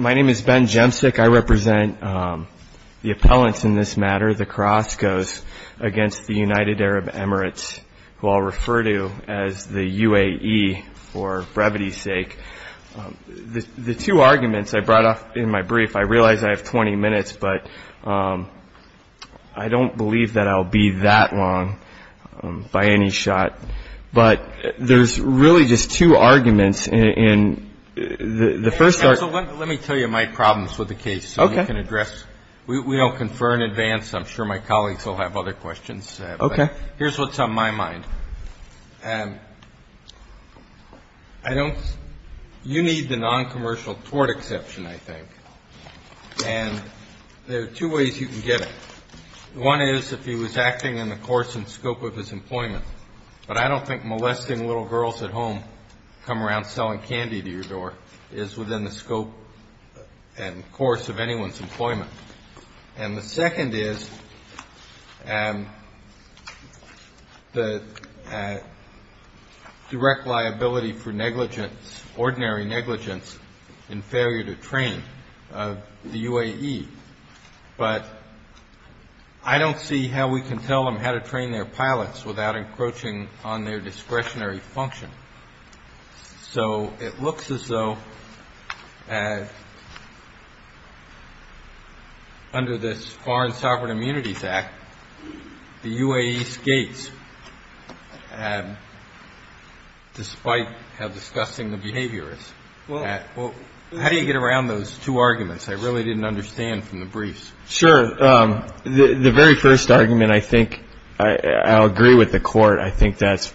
My name is Ben Jemcik. I represent the appellants in this matter, the Crascos, against the United I brought up in my brief, I realize I have 20 minutes, but I don't believe that I'll be that long by any shot. But there's really just two arguments, and the first are... So let me tell you my problems with the case so you can address... Okay. We don't confer in advance. I'm sure my colleagues will have other questions. Okay. Here's what's on my mind. You need the non-commercial tort exception, I think. And there are two ways you can get it. One is if he was acting in the course and scope of his employment. But I don't think molesting little girls at home, come around selling candy to your door, is within the scope and course of anyone's employment. And the second is the direct liability for negligence, ordinary negligence in failure to train of the UAE. But I don't see how we can tell them how to train their pilots without encroaching on their discretionary function. So it looks as though under this Foreign Sovereign Immunities Act, the UAE skates, despite how disgusting the behavior is. How do you get around those two arguments? I really didn't understand from the briefs. Sure. The very first argument, I think, I'll agree with the court. I think that's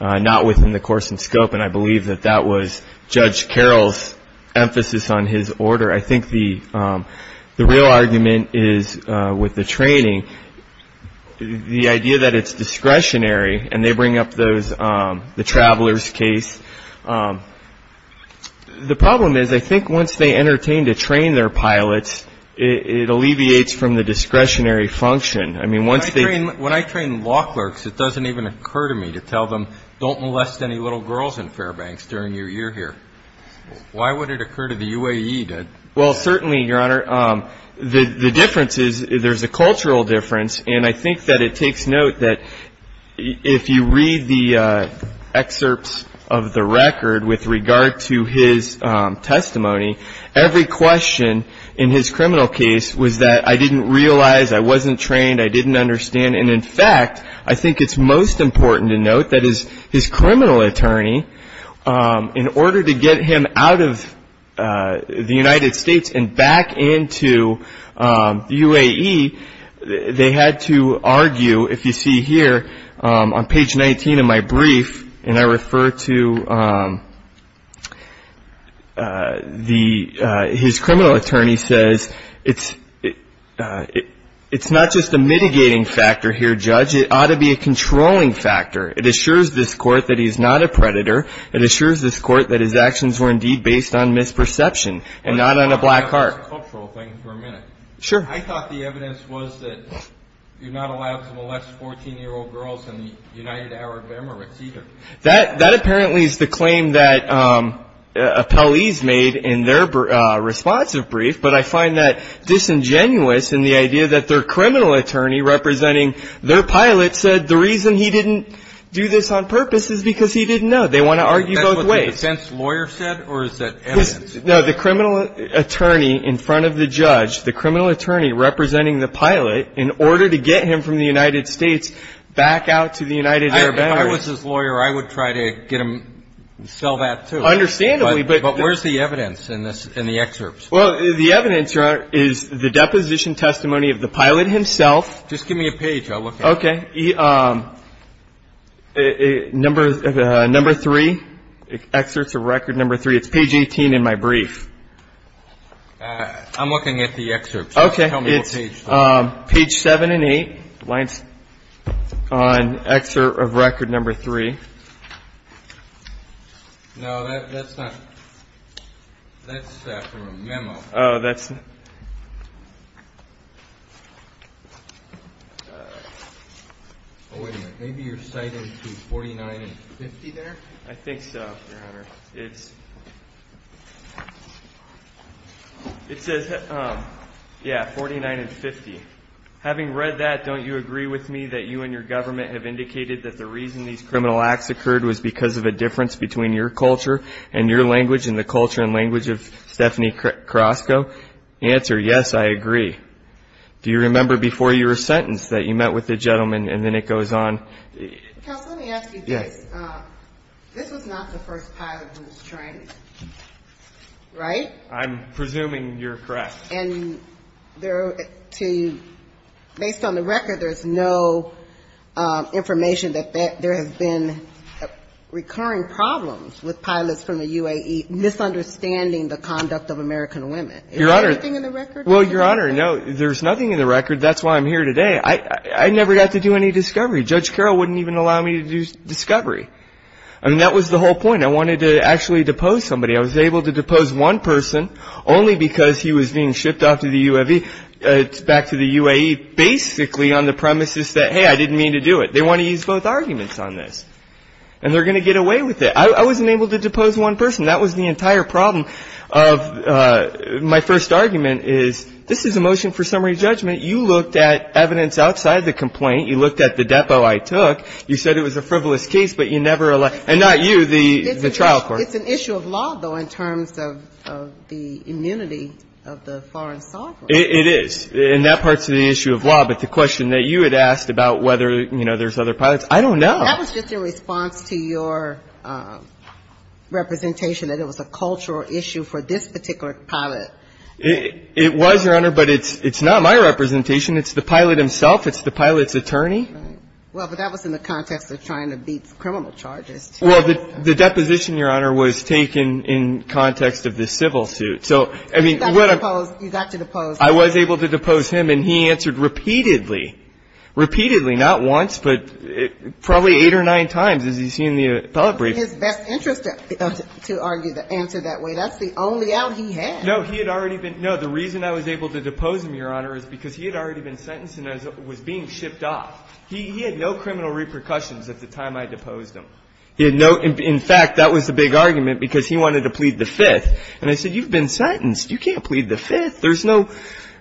not within the course and scope. And I believe that that was Judge Carroll's emphasis on his order. I think the real argument is with the training. The idea that it's discretionary and they bring up the traveler's case. The problem is, I think once they entertain to train their pilots, it alleviates from the discretionary function. I mean, once they... When I train law clerks, it doesn't even occur to me to tell them, don't molest any little girls in Fairbanks during your year here. Why would it occur to the UAE to... Well, certainly, Your Honor, the difference is there's a cultural difference. And I think that it takes note that if you read the excerpts of the record with regard to his testimony, every question in his criminal case was that I didn't realize, I wasn't trained, I didn't understand. And, in fact, I think it's most important to note that his criminal attorney, in order to get him out of the United States and back into the UAE, they had to argue. If you see here on page 19 of my brief, and I refer to his criminal attorney says, it's not just a mitigating factor here, Judge, it ought to be a controlling factor. It assures this court that he's not a predator. It assures this court that his actions were, indeed, based on misperception and not on a black heart. Let me talk about this cultural thing for a minute. Sure. I thought the evidence was that you're not allowed to molest 14-year-old girls in the United Arab Emirates either. That apparently is the claim that appellees made in their responsive brief. But I find that disingenuous in the idea that their criminal attorney representing their pilot said the reason he didn't do this on purpose is because he didn't know. They want to argue both ways. Is that what the defense lawyer said, or is that evidence? No, the criminal attorney in front of the judge, the criminal attorney representing the pilot, in order to get him from the United States back out to the United Arab Emirates. If I was his lawyer, I would try to get him to sell that, too. Understandably. But where's the evidence in the excerpts? Well, the evidence, Your Honor, is the deposition testimony of the pilot himself. Just give me a page. I'll look at it. Okay. Number three, excerpts of record number three. It's page 18 in my brief. I'm looking at the excerpts. Okay. Tell me what page. It's page 7 and 8, lines on excerpt of record number three. No, that's not. That's from a memo. Oh, that's. Oh, wait a minute. Maybe you're citing to 49 and 50 there? I think so, Your Honor. It says, yeah, 49 and 50. Having read that, don't you agree with me that you and your government have indicated that the reason these criminal acts occurred was because of a difference between your culture and your language and the culture and language of Stephanie Carrasco? Answer, yes, I agree. Do you remember before your sentence that you met with the gentleman, and then it goes on? Counsel, let me ask you this. This was not the first pilot who was trained, right? I'm presuming you're correct. And based on the record, there's no information that there has been recurring problems with pilots from the UAE misunderstanding the conduct of American women. Is there anything in the record? Well, Your Honor, no, there's nothing in the record. That's why I'm here today. I never got to do any discovery. Judge Carroll wouldn't even allow me to do discovery. I mean, that was the whole point. I wanted to actually depose somebody. I was able to depose one person only because he was being shipped off to the UAE, back to the UAE, basically on the premises that, hey, I didn't mean to do it. They want to use both arguments on this. And they're going to get away with it. I wasn't able to depose one person. That was the entire problem of my first argument is this is a motion for summary judgment. You looked at evidence outside the complaint. You looked at the depot I took. You said it was a frivolous case, but you never allowed it. And not you, the trial court. It's an issue of law, though, in terms of the immunity of the foreign sovereign. It is. And that part's the issue of law. But the question that you had asked about whether, you know, there's other pilots, I don't know. That was just in response to your representation that it was a cultural issue for this particular pilot. It was, Your Honor, but it's not my representation. It's the pilot himself. It's the pilot's attorney. Right. Well, but that was in the context of trying to beat criminal charges, too. Well, the deposition, Your Honor, was taken in context of the civil suit. So, I mean, what I'm. You got to depose. You got to depose. I was able to depose him, and he answered repeatedly, repeatedly, not once, but probably eight or nine times, as you see in the appellate brief. It's in his best interest to argue the answer that way. That's the only out he had. No, he had already been. No, the reason I was able to depose him, Your Honor, is because he had already been sentenced and was being shipped off. He had no criminal repercussions at the time I deposed him. He had no. In fact, that was the big argument, because he wanted to plead the Fifth. And I said, you've been sentenced. You can't plead the Fifth. There's no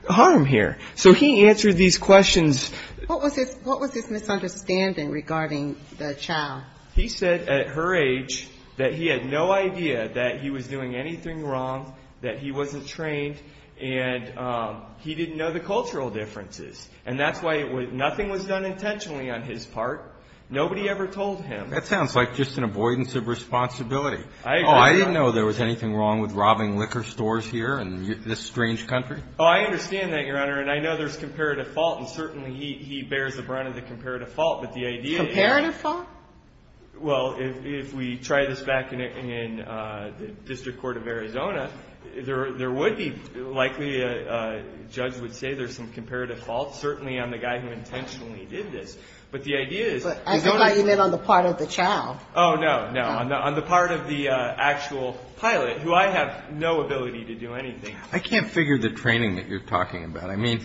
harm here. So he answered these questions. What was his misunderstanding regarding the child? He said at her age that he had no idea that he was doing anything wrong, that he wasn't trained, and he didn't know the cultural differences. And that's why nothing was done intentionally on his part. Nobody ever told him. That sounds like just an avoidance of responsibility. I agree. Oh, I didn't know there was anything wrong with robbing liquor stores here in this strange country. Oh, I understand that, Your Honor. And I know there's comparative fault, and certainly he bears the brunt of the comparative But the idea is that the child is not a child. Comparative fault? Well, if we try this back in the district court of Arizona, there would be likely a judge would say there's some comparative fault, certainly on the guy who intentionally did this. But that's how you live on the part of the child. Oh, no, no. On the part of the actual pilot, who I have no ability to do anything. I can't figure the training that you're talking about. I mean,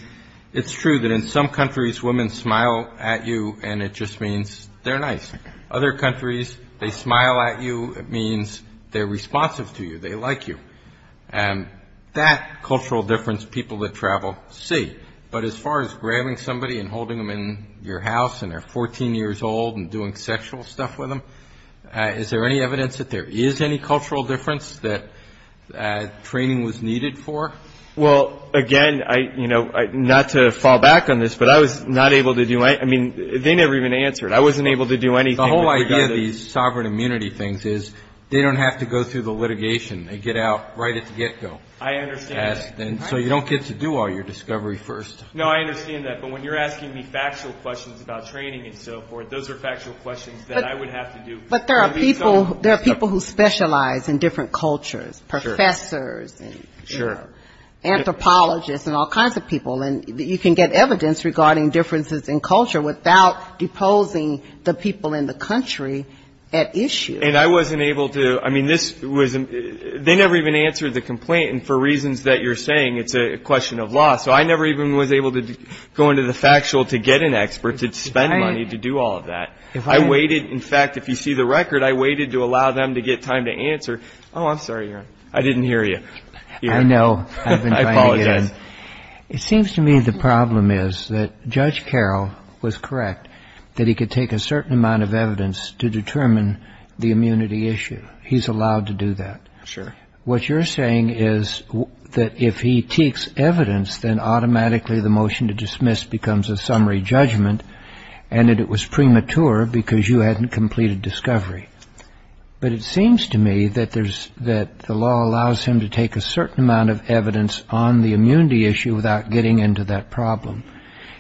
it's true that in some countries, women smile at you, and it just means they're nice. Other countries, they smile at you. It means they're responsive to you. They like you. And that cultural difference, people that travel see. But as far as grabbing somebody and holding them in your house, and they're 14 years old and doing sexual stuff with them, is there any evidence that there is any cultural difference that training was needed for? Well, again, you know, not to fall back on this, but I was not able to do anything. I mean, they never even answered. I wasn't able to do anything. The whole idea of these sovereign immunity things is they don't have to go through the litigation. I understand that. So you don't get to do all your discovery first. No, I understand that. But when you're asking me factual questions about training and so forth, those are factual questions that I would have to do. But there are people who specialize in different cultures, professors and anthropologists and all kinds of people, and you can get evidence regarding differences in culture without deposing the people in the country at issue. And I wasn't able to. I mean, they never even answered the complaint. And for reasons that you're saying, it's a question of law. So I never even was able to go into the factual to get an expert to spend money to do all of that. I waited. In fact, if you see the record, I waited to allow them to get time to answer. Oh, I'm sorry. I didn't hear you. I know. I've been trying to get in. I apologize. It seems to me the problem is that Judge Carroll was correct, that he could take a certain amount of evidence to determine the immunity issue. He's allowed to do that. Sure. What you're saying is that if he takes evidence, then automatically the motion to dismiss becomes a summary judgment and that it was premature because you hadn't completed discovery. But it seems to me that the law allows him to take a certain amount of evidence on the immunity issue without getting into that problem.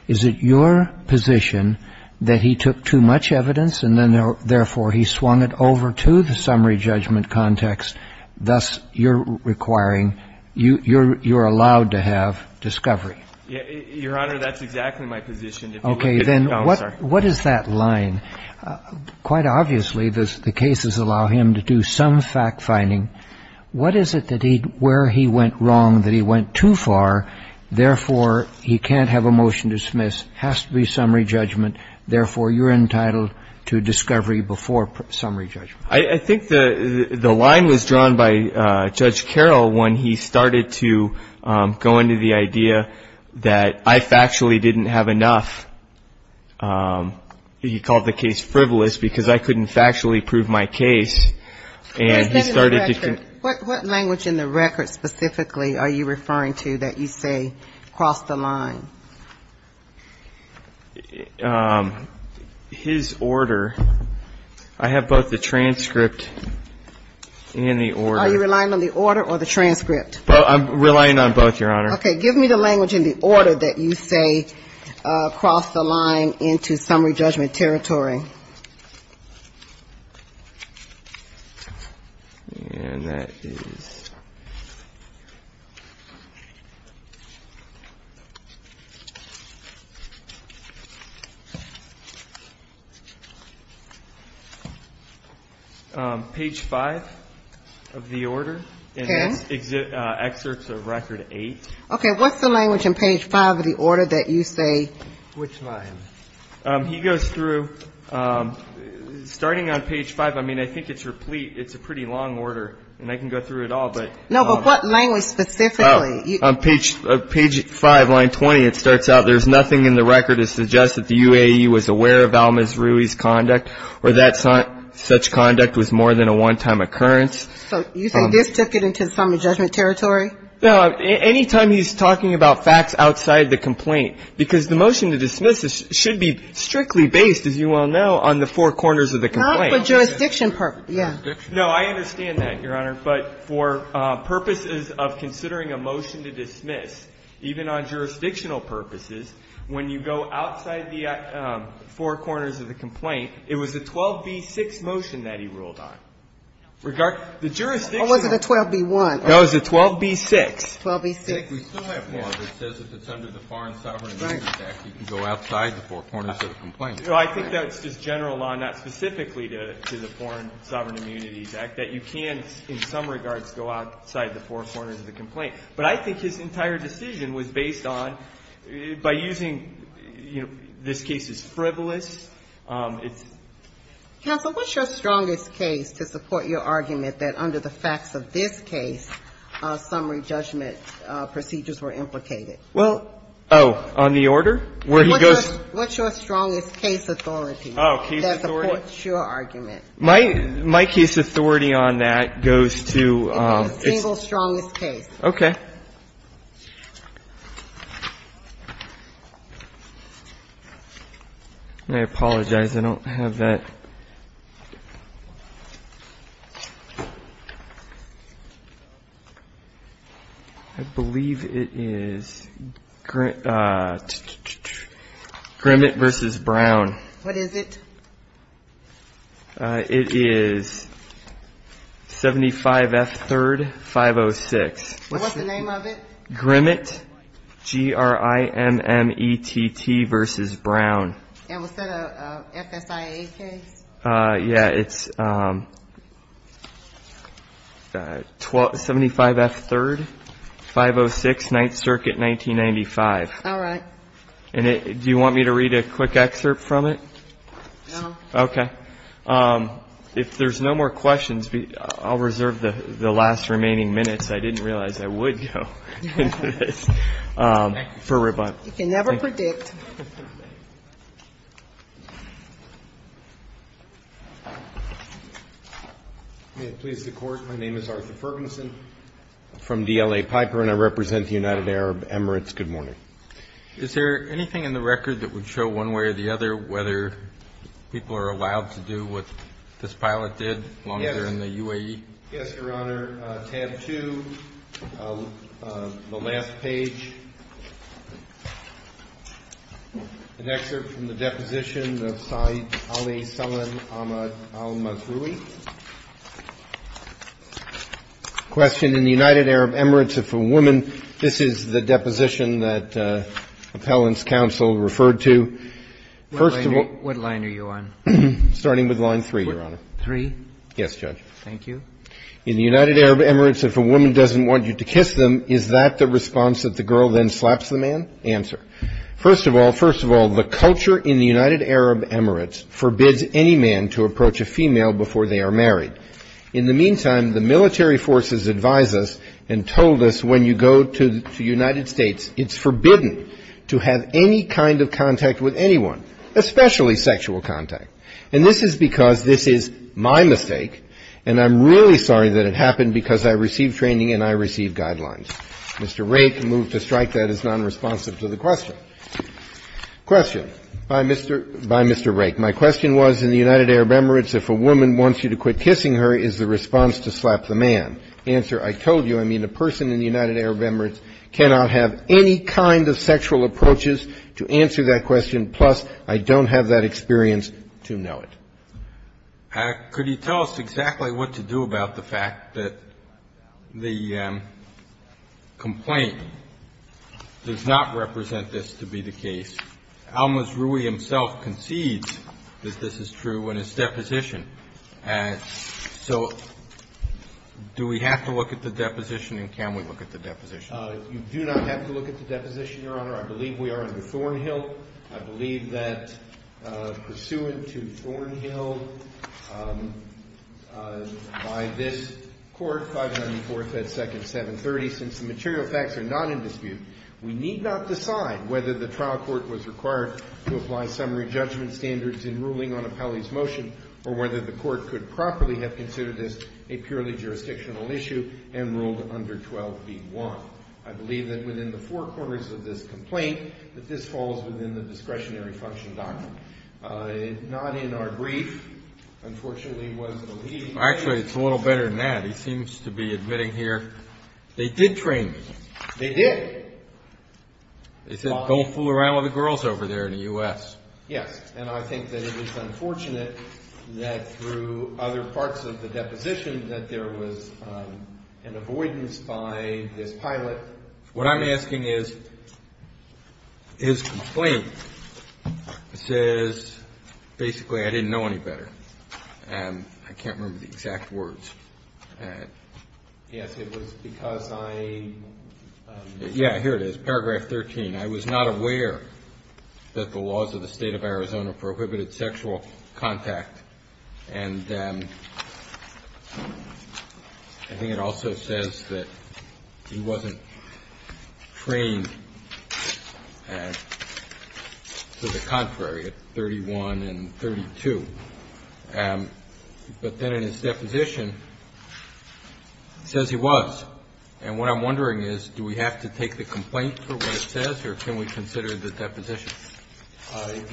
Is it your position that he took too much evidence and then, therefore, he swung it over to the summary judgment context, thus you're requiring, you're allowed to have discovery? Your Honor, that's exactly my position. Okay. Then what is that line? Quite obviously, the cases allow him to do some fact-finding. What is it that he, where he went wrong, that he went too far, therefore he can't have a motion to dismiss, has to be summary judgment, therefore you're entitled to discovery before summary judgment? I think the line was drawn by Judge Carroll when he started to go into the idea that I factually didn't have enough. He called the case frivolous because I couldn't factually prove my case. What language in the record specifically are you referring to that you say crossed the line? His order. I have both the transcript and the order. Are you relying on the order or the transcript? I'm relying on both, Your Honor. Okay. Give me the language in the order that you say crossed the line into summary judgment territory. And that is page 5 of the order. Okay. And that's excerpts of record 8. Okay. What's the language in page 5 of the order that you say? Which line? He goes through, starting on page 5, I mean, I think it's replete. It's a pretty long order, and I can go through it all, but. No, but what language specifically? Page 5, line 20, it starts out, there's nothing in the record that suggests that the UAE was aware of Alma's Ruiz's conduct or that such conduct was more than a one-time occurrence. So you think this took it into summary judgment territory? No. Any time he's talking about facts outside the complaint, because the motion to dismiss should be strictly based, as you well know, on the four corners of the complaint. Not for jurisdiction purposes. Yeah. No, I understand that, Your Honor. But for purposes of considering a motion to dismiss, even on jurisdictional purposes, when you go outside the four corners of the complaint, it was a 12b-6 motion that he ruled on. The jurisdictional Or was it a 12b-1? No, it was a 12b-6. 12b-6. We still have one that says if it's under the Foreign Sovereign Immunity Act, you can go outside the four corners of the complaint. I think that's just general law, not specifically to the Foreign Sovereign Immunity Act, that you can, in some regards, go outside the four corners of the complaint. But I think his entire decision was based on, by using, you know, this case is frivolous, it's Counsel, what's your strongest case to support your argument that under the facts of this case, summary judgment procedures were implicated? Well, oh, on the order? Where he goes? What's your strongest case authority? Oh, case authority? That supports your argument. My case authority on that goes to the single strongest case. Okay. I apologize, I don't have that. I believe it is Grimmett v. Brown. What is it? It is 75F3rd 506. What's the number? What's the name of it? Grimmett, G-R-I-M-M-E-T-T v. Brown. And was that a FSIA case? Yeah, it's 75F3rd 506, 9th Circuit, 1995. All right. And do you want me to read a quick excerpt from it? No. Okay. If there's no more questions, I'll reserve the last remaining minutes. I didn't realize I would go into this. Thank you. You can never predict. May it please the Court, my name is Arthur Fergenson. I'm from DLA Piper, and I represent the United Arab Emirates. Good morning. Is there anything in the record that would show one way or the other whether people are allowed to do what this pilot did while they were in the UAE? Yes, Your Honor. Under tab 2, the last page, an excerpt from the deposition of Saeed Ali Salman al-Mathrui. Question. In the United Arab Emirates, if a woman, this is the deposition that appellant's counsel referred to. What line are you on? Starting with line 3, Your Honor. 3? Yes, Judge. Thank you. In the United Arab Emirates, if a woman doesn't want you to kiss them, is that the response that the girl then slaps the man? Answer. First of all, first of all, the culture in the United Arab Emirates forbids any man to approach a female before they are married. In the meantime, the military forces advise us and told us when you go to the United States, it's forbidden to have any kind of contact with anyone, especially sexual contact. And this is because this is my mistake, and I'm really sorry that it happened because I received training and I received guidelines. Mr. Rake moved to strike that as nonresponsive to the question. Question by Mr. Rake. My question was, in the United Arab Emirates, if a woman wants you to quit kissing her, is the response to slap the man? Answer. I told you, I mean, a person in the United Arab Emirates cannot have any kind of sexual contact with a man. So I don't have the experience to know it. I don't have the experience to know it. And I don't have the experience to know it. Could you tell us exactly what to do about the fact that the complaint does not represent this to be the case? Almaz-Ruhi himself concedes that this is true in his deposition. So do we have to look at the deposition, and can we look at the deposition? You do not have to look at the deposition, Your Honor. I believe we are under Thornhill. I believe that pursuant to Thornhill, by this court, 594 FedSecond 730, since the material facts are not in dispute, we need not decide whether the trial court was required to apply summary judgment standards in ruling on Appellee's motion or whether the court could properly have considered this a purely jurisdictional issue and ruled under 12b-1. I believe that within the four quarters of this complaint that this falls within the discretionary function doctrine. Not in our brief, unfortunately, was the lead. Actually, it's a little better than that. He seems to be admitting here, they did train me. They did. They said, go fool around with the girls over there in the U.S. Yes, and I think that it is unfortunate that through other parts of the deposition that there was an avoidance by this pilot. What I'm asking is, his complaint says basically I didn't know any better. I can't remember the exact words. Yes, it was because I... Yeah, here it is, paragraph 13. I was not aware that the laws of the State of Arizona prohibited sexual contact. And I think it also says that he wasn't trained to the contrary at 31 and 32. But then in his deposition, it says he was. And what I'm wondering is, do we have to take the complaint for what it says, or can we consider the deposition?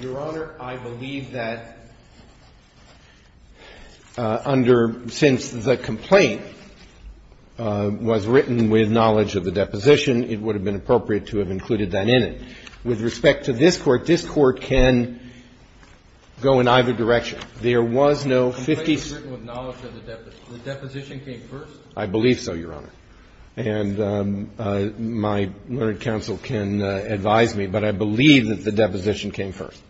Your Honor, I believe that under – since the complaint was written with knowledge of the deposition, it would have been appropriate to have included that in it. With respect to this Court, this Court can go in either direction. There was no 50... The complaint was written with knowledge of the deposition. The deposition came first? I believe so, Your Honor. And my learned counsel can advise me, but I believe that the deposition came first.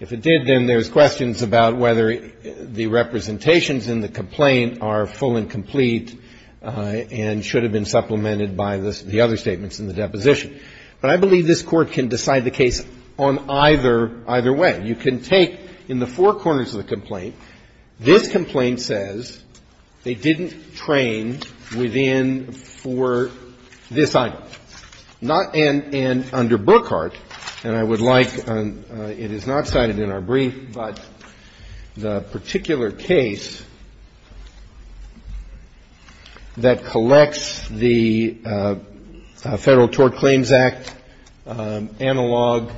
If it did, then there's questions about whether the representations in the complaint are full and complete and should have been supplemented by the other statements in the deposition. But I believe this Court can decide the case on either way. You can take, in the four corners of the complaint, this complaint says they didn't train within for this item, not – and under Brookhart, and I would like – it is not cited in our brief, but the particular case that collects the Federal Tort Claims Act analog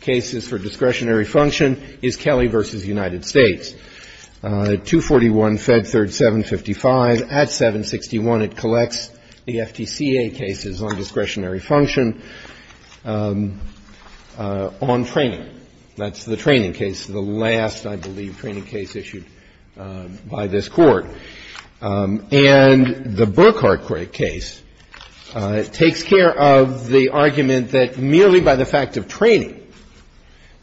cases for discretionary function is Kelly v. United States, 241, Fed 3rd, 755. At 761, it collects the FTCA cases on discretionary function on training. That's the training case, the last, I believe, training case issued by this Court. And the Brookhart case takes care of the argument that merely by the fact of training,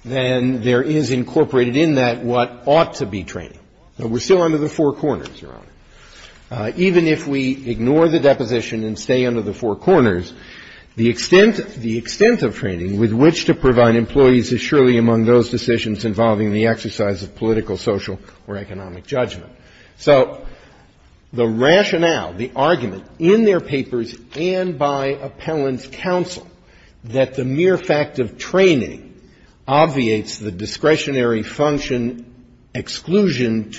then there is incorporated in that what ought to be training. Now, we're still under the four corners, Your Honor. Even if we ignore the deposition and stay under the four corners, the extent of training with which to provide employees is surely among those decisions involving the exercise of political, social, or economic judgment. So the rationale, the argument, in their papers and by appellant's counsel that the exception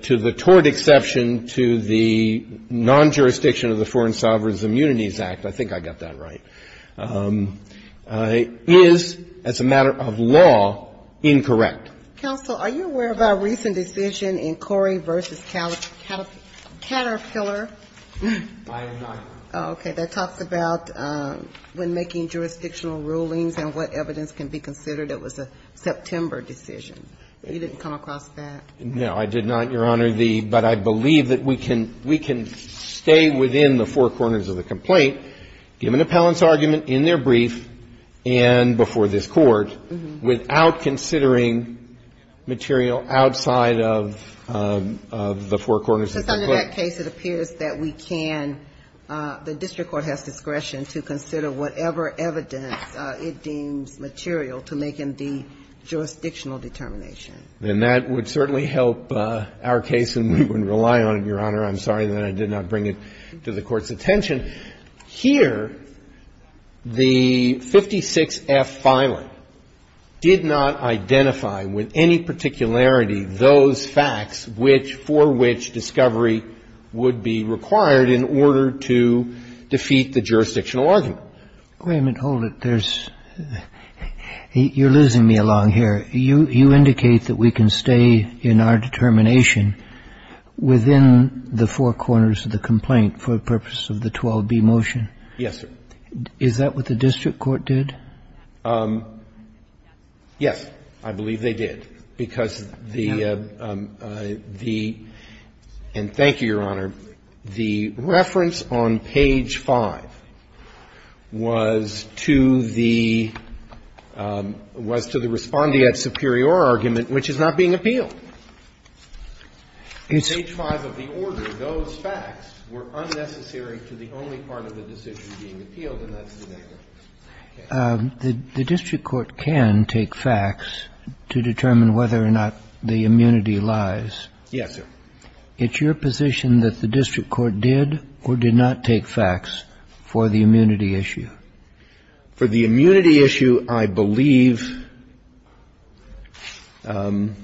to the tort exception to the non-jurisdiction of the Foreign Sovereign Immunities Act, I think I got that right, is, as a matter of law, incorrect. Counsel, are you aware of our recent decision in Corey v. Caterpillar? I am not. Okay. That talks about when making jurisdictional rulings and what evidence can be considered. It was a September decision. You didn't come across that? No, I did not, Your Honor. But I believe that we can stay within the four corners of the complaint, given appellant's argument in their brief and before this Court, without considering material outside of the four corners of the complaint. So under that case, it appears that we can, the district court has discretion to consider whatever evidence it deems material to make, indeed, jurisdictional determination. Then that would certainly help our case, and we wouldn't rely on it, Your Honor. I'm sorry that I did not bring it to the Court's attention. Here, the 56F filing did not identify with any particularity those facts which for which Wait a minute. Hold it. There's you're losing me along here. You indicate that we can stay in our determination within the four corners of the complaint for the purpose of the 12B motion. Yes, sir. Is that what the district court did? I'm sorry, Your Honor. The reference on page 5 was to the respondeat superior argument, which is not being appealed. Page 5 of the order, those facts were unnecessary to the only part of the decision being appealed, and that's the name of it. The district court can take facts to determine whether or not the immunity lies. Yes, sir. It's your position that the district court did or did not take facts for the immunity issue? For the immunity issue, I believe the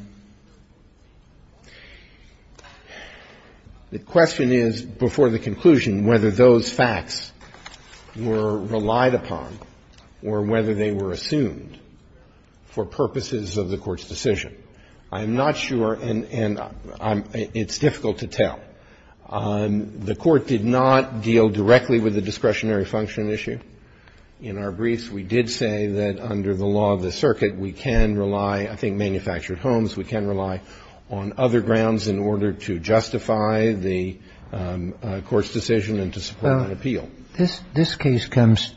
question is before the conclusion whether those facts were relied upon or whether they were assumed for purposes of the Court's decision. I'm not sure, and it's difficult to tell. The Court did not deal directly with the discretionary function issue. In our briefs, we did say that under the law of the circuit, we can rely, I think manufactured homes, we can rely on other grounds in order to justify the Court's decision and to support an appeal. Well, this case comes,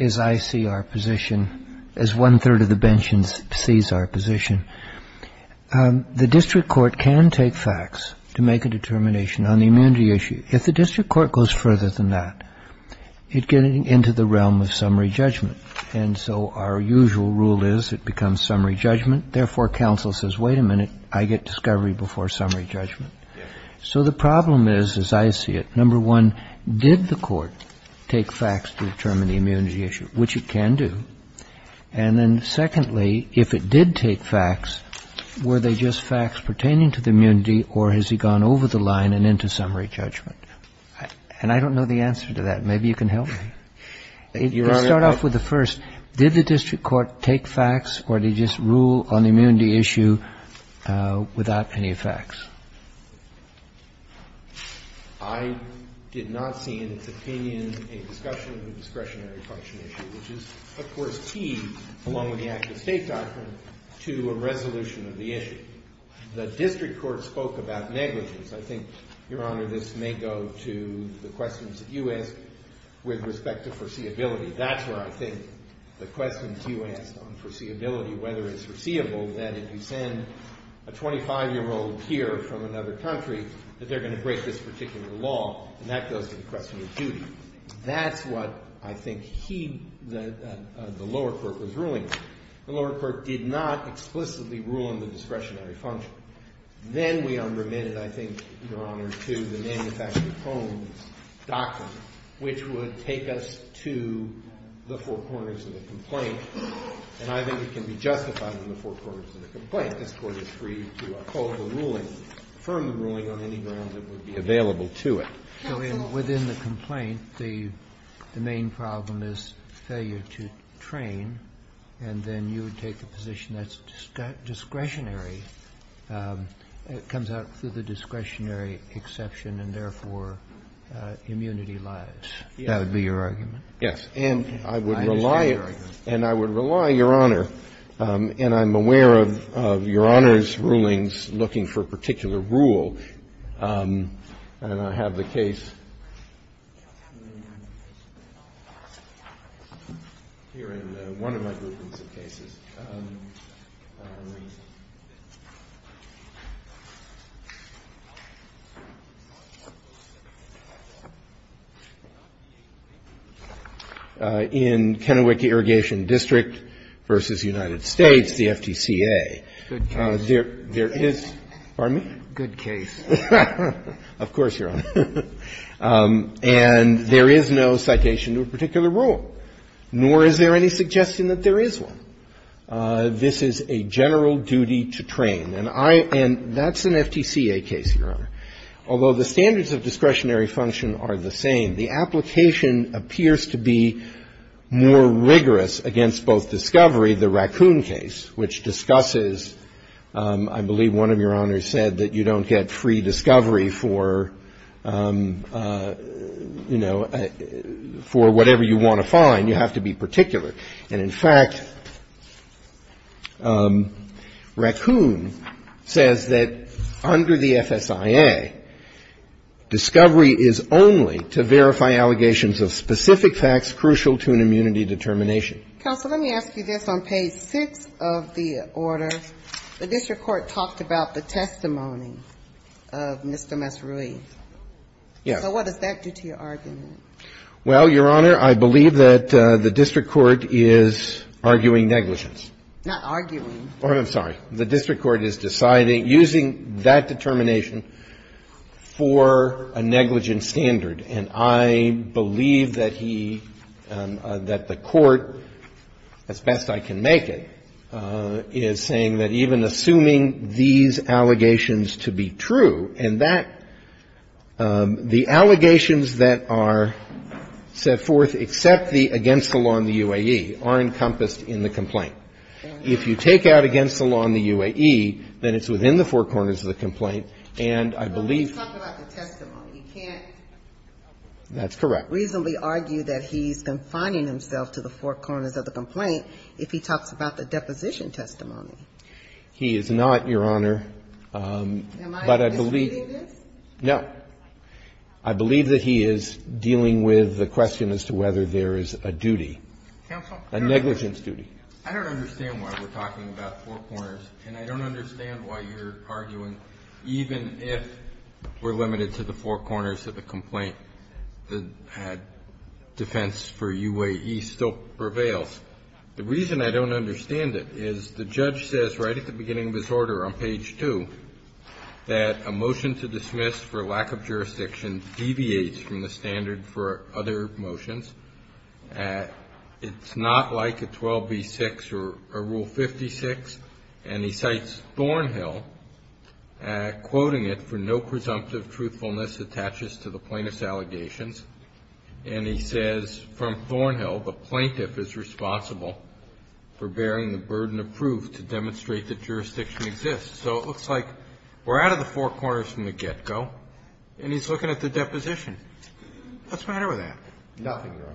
as I see our position, as one-third of the bench sees our position. The district court can take facts to make a determination on the immunity issue. If the district court goes further than that, it gets into the realm of summary judgment, and so our usual rule is it becomes summary judgment. Therefore, counsel says, wait a minute, I get discovery before summary judgment. So the problem is, as I see it, number one, did the court take facts to determine the immunity issue, which it can do? And then secondly, if it did take facts, were they just facts pertaining to the immunity or has he gone over the line and into summary judgment? And I don't know the answer to that. Maybe you can help me. Let's start off with the first. Did the district court take facts or did it just rule on the immunity issue without any facts? I did not see in its opinion a discussion of the discretionary function issue, which is, of course, key, along with the active state doctrine, to a resolution of the issue. The district court spoke about negligence. I think, Your Honor, this may go to the questions that you asked with respect to foreseeability. That's where I think the questions you asked on foreseeability, whether it's foreseeable, that if you send a 25-year-old here from another country, that they're going to break this particular law, and that goes to the question of duty. That's what I think he, the lower court, was ruling on. The lower court did not explicitly rule on the discretionary function. Then we unremitted, I think, Your Honor, to the manufacturing homes doctrine, which would take us to the four corners of the complaint. And I think it can be justified in the four corners of the complaint. This Court is free to uphold the ruling, affirm the ruling on any ground that would be available to it. Kennedy. So within the complaint, the main problem is failure to train, and then you would take a position that's discretionary. It comes out through the discretionary exception and, therefore, immunity lies. That would be your argument? Yes. And I would rely, Your Honor, and I'm aware of Your Honor's rulings looking for a particular rule, and I have the case here in one of my groupings of cases. In Kennewick Irrigation District v. United States, the FDCA, there is, pardon me? Good case. Of course, Your Honor. And there is no citation to a particular rule, nor is there any suggestion that there is one. This is a general duty to train. And I – and that's an FDCA case, Your Honor. Although the standards of discretionary function are the same, the application appears to be more rigorous against both discovery, the Raccoon case, which discusses I believe one of Your Honors said that you don't get free discovery for, you know, for whatever you want to find. You have to be particular. And, in fact, Raccoon says that under the FSIA, discovery is only to verify allegations of specific facts crucial to an immunity determination. Counsel, let me ask you this. On page 6 of the order, the district court talked about the testimony of Mr. Massarui. Yes. So what does that do to your argument? Well, Your Honor, I believe that the district court is arguing negligence. Not arguing. I'm sorry. The district court is deciding, using that determination for a negligence standard. And I believe that he – that the court, as best I can make it, is saying that even assuming these allegations to be true, and that the allegations that are set forth except the against the law in the UAE are encompassed in the complaint. And if you take out against the law in the UAE, then it's within the four corners of the complaint. And I believe – Well, let me talk about the testimony. You can't reasonably argue that he's confining himself to the four corners of the complaint if he talks about the deposition testimony. He is not, Your Honor. Am I misleading this? No. I believe that he is dealing with the question as to whether there is a duty. Counsel? A negligence duty. I don't understand why we're talking about four corners, and I don't understand why you're arguing even if we're limited to the four corners of the complaint, that defense for UAE still prevails. The reason I don't understand it is the judge says right at the beginning of his order on page 2 that a motion to dismiss for lack of jurisdiction deviates from the standard for other motions. It's not like a 12b-6 or Rule 56. And he cites Thornhill, quoting it, for no presumptive truthfulness attaches to the plaintiff's allegations. And he says from Thornhill, the plaintiff is responsible for bearing the burden of proof to demonstrate that jurisdiction exists. So it looks like we're out of the four corners from the get-go, and he's looking at the deposition. What's the matter with that? Nothing, Your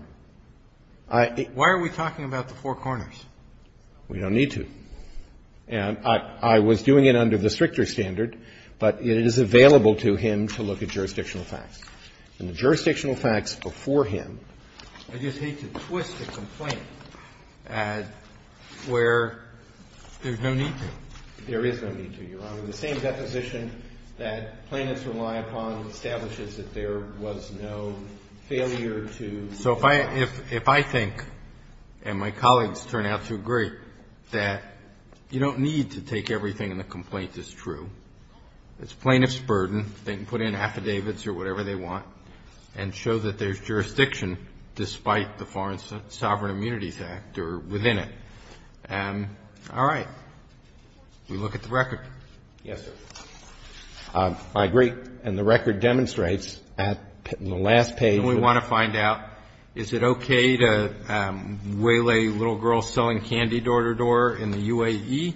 Honor. Why are we talking about the four corners? We don't need to. And I was doing it under the stricter standard, but it is available to him to look at jurisdictional facts. And the jurisdictional facts before him. I just hate to twist the complaint where there's no need to. There is no need to, Your Honor. So the same deposition that plaintiffs rely upon establishes that there was no failure to. So if I think, and my colleagues turn out to agree, that you don't need to take everything in the complaint as true. It's plaintiff's burden. They can put in affidavits or whatever they want and show that there's jurisdiction despite the Foreign Sovereign Immunities Act or within it. All right. We look at the record. Yes, sir. I agree. And the record demonstrates in the last page. We want to find out, is it okay to waylay little girls selling candy door-to-door in the UAE?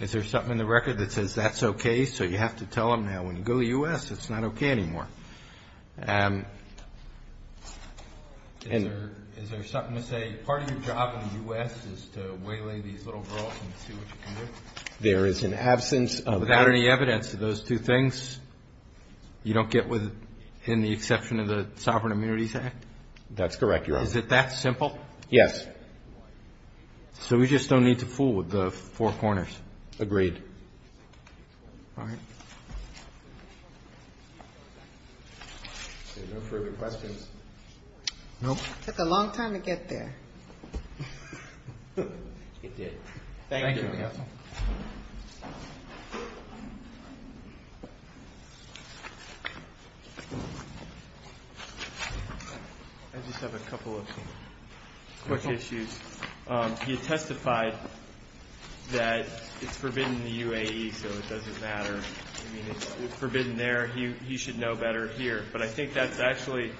Is there something in the record that says that's okay, so you have to tell them now when you go to the U.S. it's not okay anymore? Is there something to say part of your job in the U.S. is to waylay these little girls and see what you can do? There is an absence of evidence. Without any evidence of those two things, you don't get in the exception of the Sovereign Immunities Act? That's correct, Your Honor. Is it that simple? Yes. So we just don't need to fool with the four corners? Agreed. All right. No further questions? No. It took a long time to get there. It did. Thank you. I just have a couple of quick issues. He testified that it's forbidden in the UAE, so it doesn't matter. I mean, it's forbidden there. He should know better here. But I think that's actually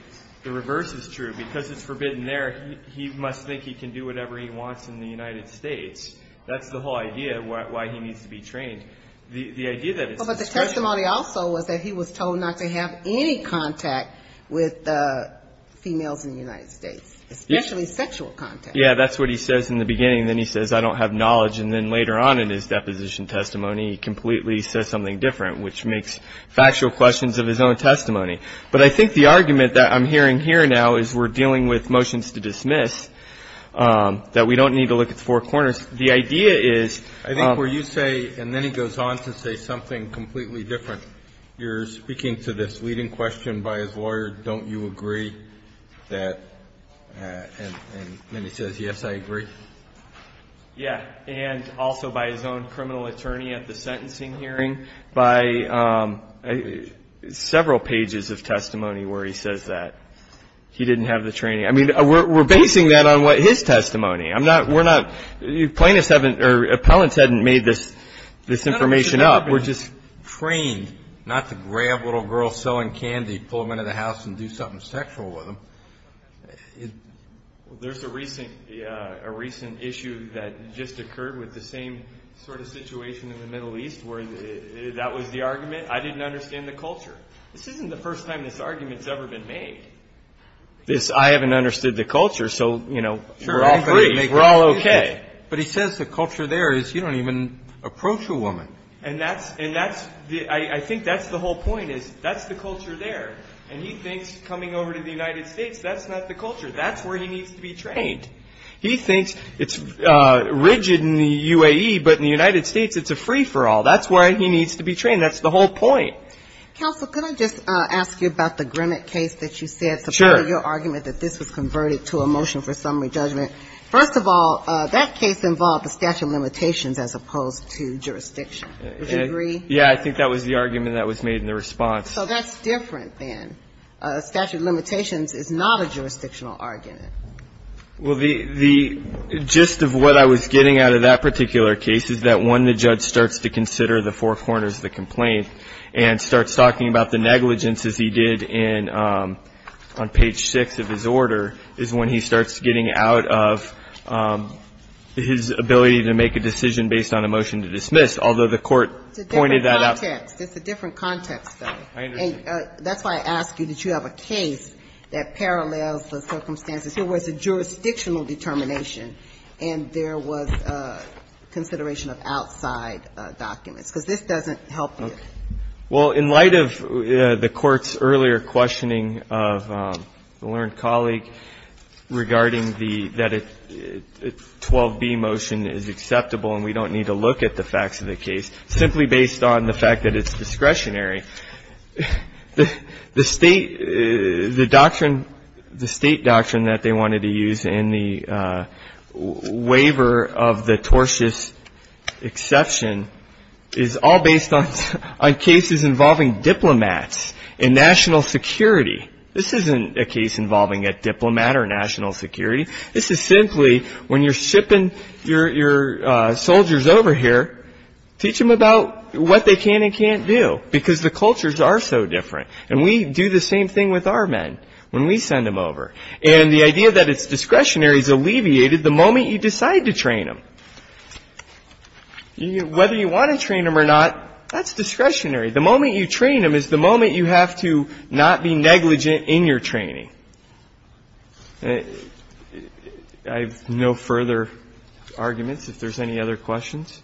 the reverse is true. Because it's forbidden there, he must think he can do whatever he wants in the United States. That's the whole idea of why he needs to be trained. The idea that it's disturbing. But the testimony also was that he was told not to have any contact with females in the United States, especially sexual contact. Yeah, that's what he says in the beginning. Then he says, I don't have knowledge. And then later on in his deposition testimony, he completely says something different, which makes factual questions of his own testimony. But I think the argument that I'm hearing here now is we're dealing with motions to dismiss, that we don't need to look at the four corners. The idea is – I think what you say, and then he goes on to say something completely different. You're speaking to this leading question by his lawyer, don't you agree that – and then he says, yes, I agree. Yeah. And also by his own criminal attorney at the sentencing hearing. By several pages of testimony where he says that he didn't have the training. I mean, we're basing that on his testimony. We're not – plaintiffs haven't – or appellants haven't made this information up. We're just trained not to grab a little girl selling candy, pull her into the house, and do something sexual with them. Well, there's a recent issue that just occurred with the same sort of situation in the Middle East where that was the argument. I didn't understand the culture. This isn't the first time this argument's ever been made. I haven't understood the culture, so, you know, we're all free. We're all okay. But he says the culture there is you don't even approach a woman. And that's – I think that's the whole point is that's the culture there. And he thinks coming over to the United States, that's not the culture. That's where he needs to be trained. He thinks it's rigid in the UAE, but in the United States it's a free-for-all. That's where he needs to be trained. That's the whole point. Counsel, could I just ask you about the Grimmett case that you said. Sure. Your argument that this was converted to a motion for summary judgment. First of all, that case involved a statute of limitations as opposed to jurisdiction. Would you agree? Yeah. I think that was the argument that was made in the response. So that's different than a statute of limitations is not a jurisdictional argument. Well, the gist of what I was getting out of that particular case is that when the judge starts to consider the four corners of the complaint and starts talking about the negligence, as he did on page 6 of his order, is when he starts getting out of his ability to make a decision based on a motion to dismiss. Although the court pointed that out. It's a different context. I understand. And that's why I ask you, did you have a case that parallels the circumstances where it was a jurisdictional determination and there was consideration of outside documents, because this doesn't help you. Well, in light of the Court's earlier questioning of a learned colleague regarding the 12b motion is acceptable and we don't need to look at the facts of the case, simply based on the fact that it's discretionary. The state doctrine that they wanted to use in the waiver of the tortious exception is all based on cases involving diplomats and national security. This isn't a case involving a diplomat or national security. This is simply when you're shipping your soldiers over here, teach them about what they can and can't do, because the cultures are so different. And we do the same thing with our men when we send them over. And the idea that it's discretionary is alleviated the moment you decide to train them. Whether you want to train them or not, that's discretionary. The moment you train them is the moment you have to not be negligent in your training. I have no further arguments if there's any other questions.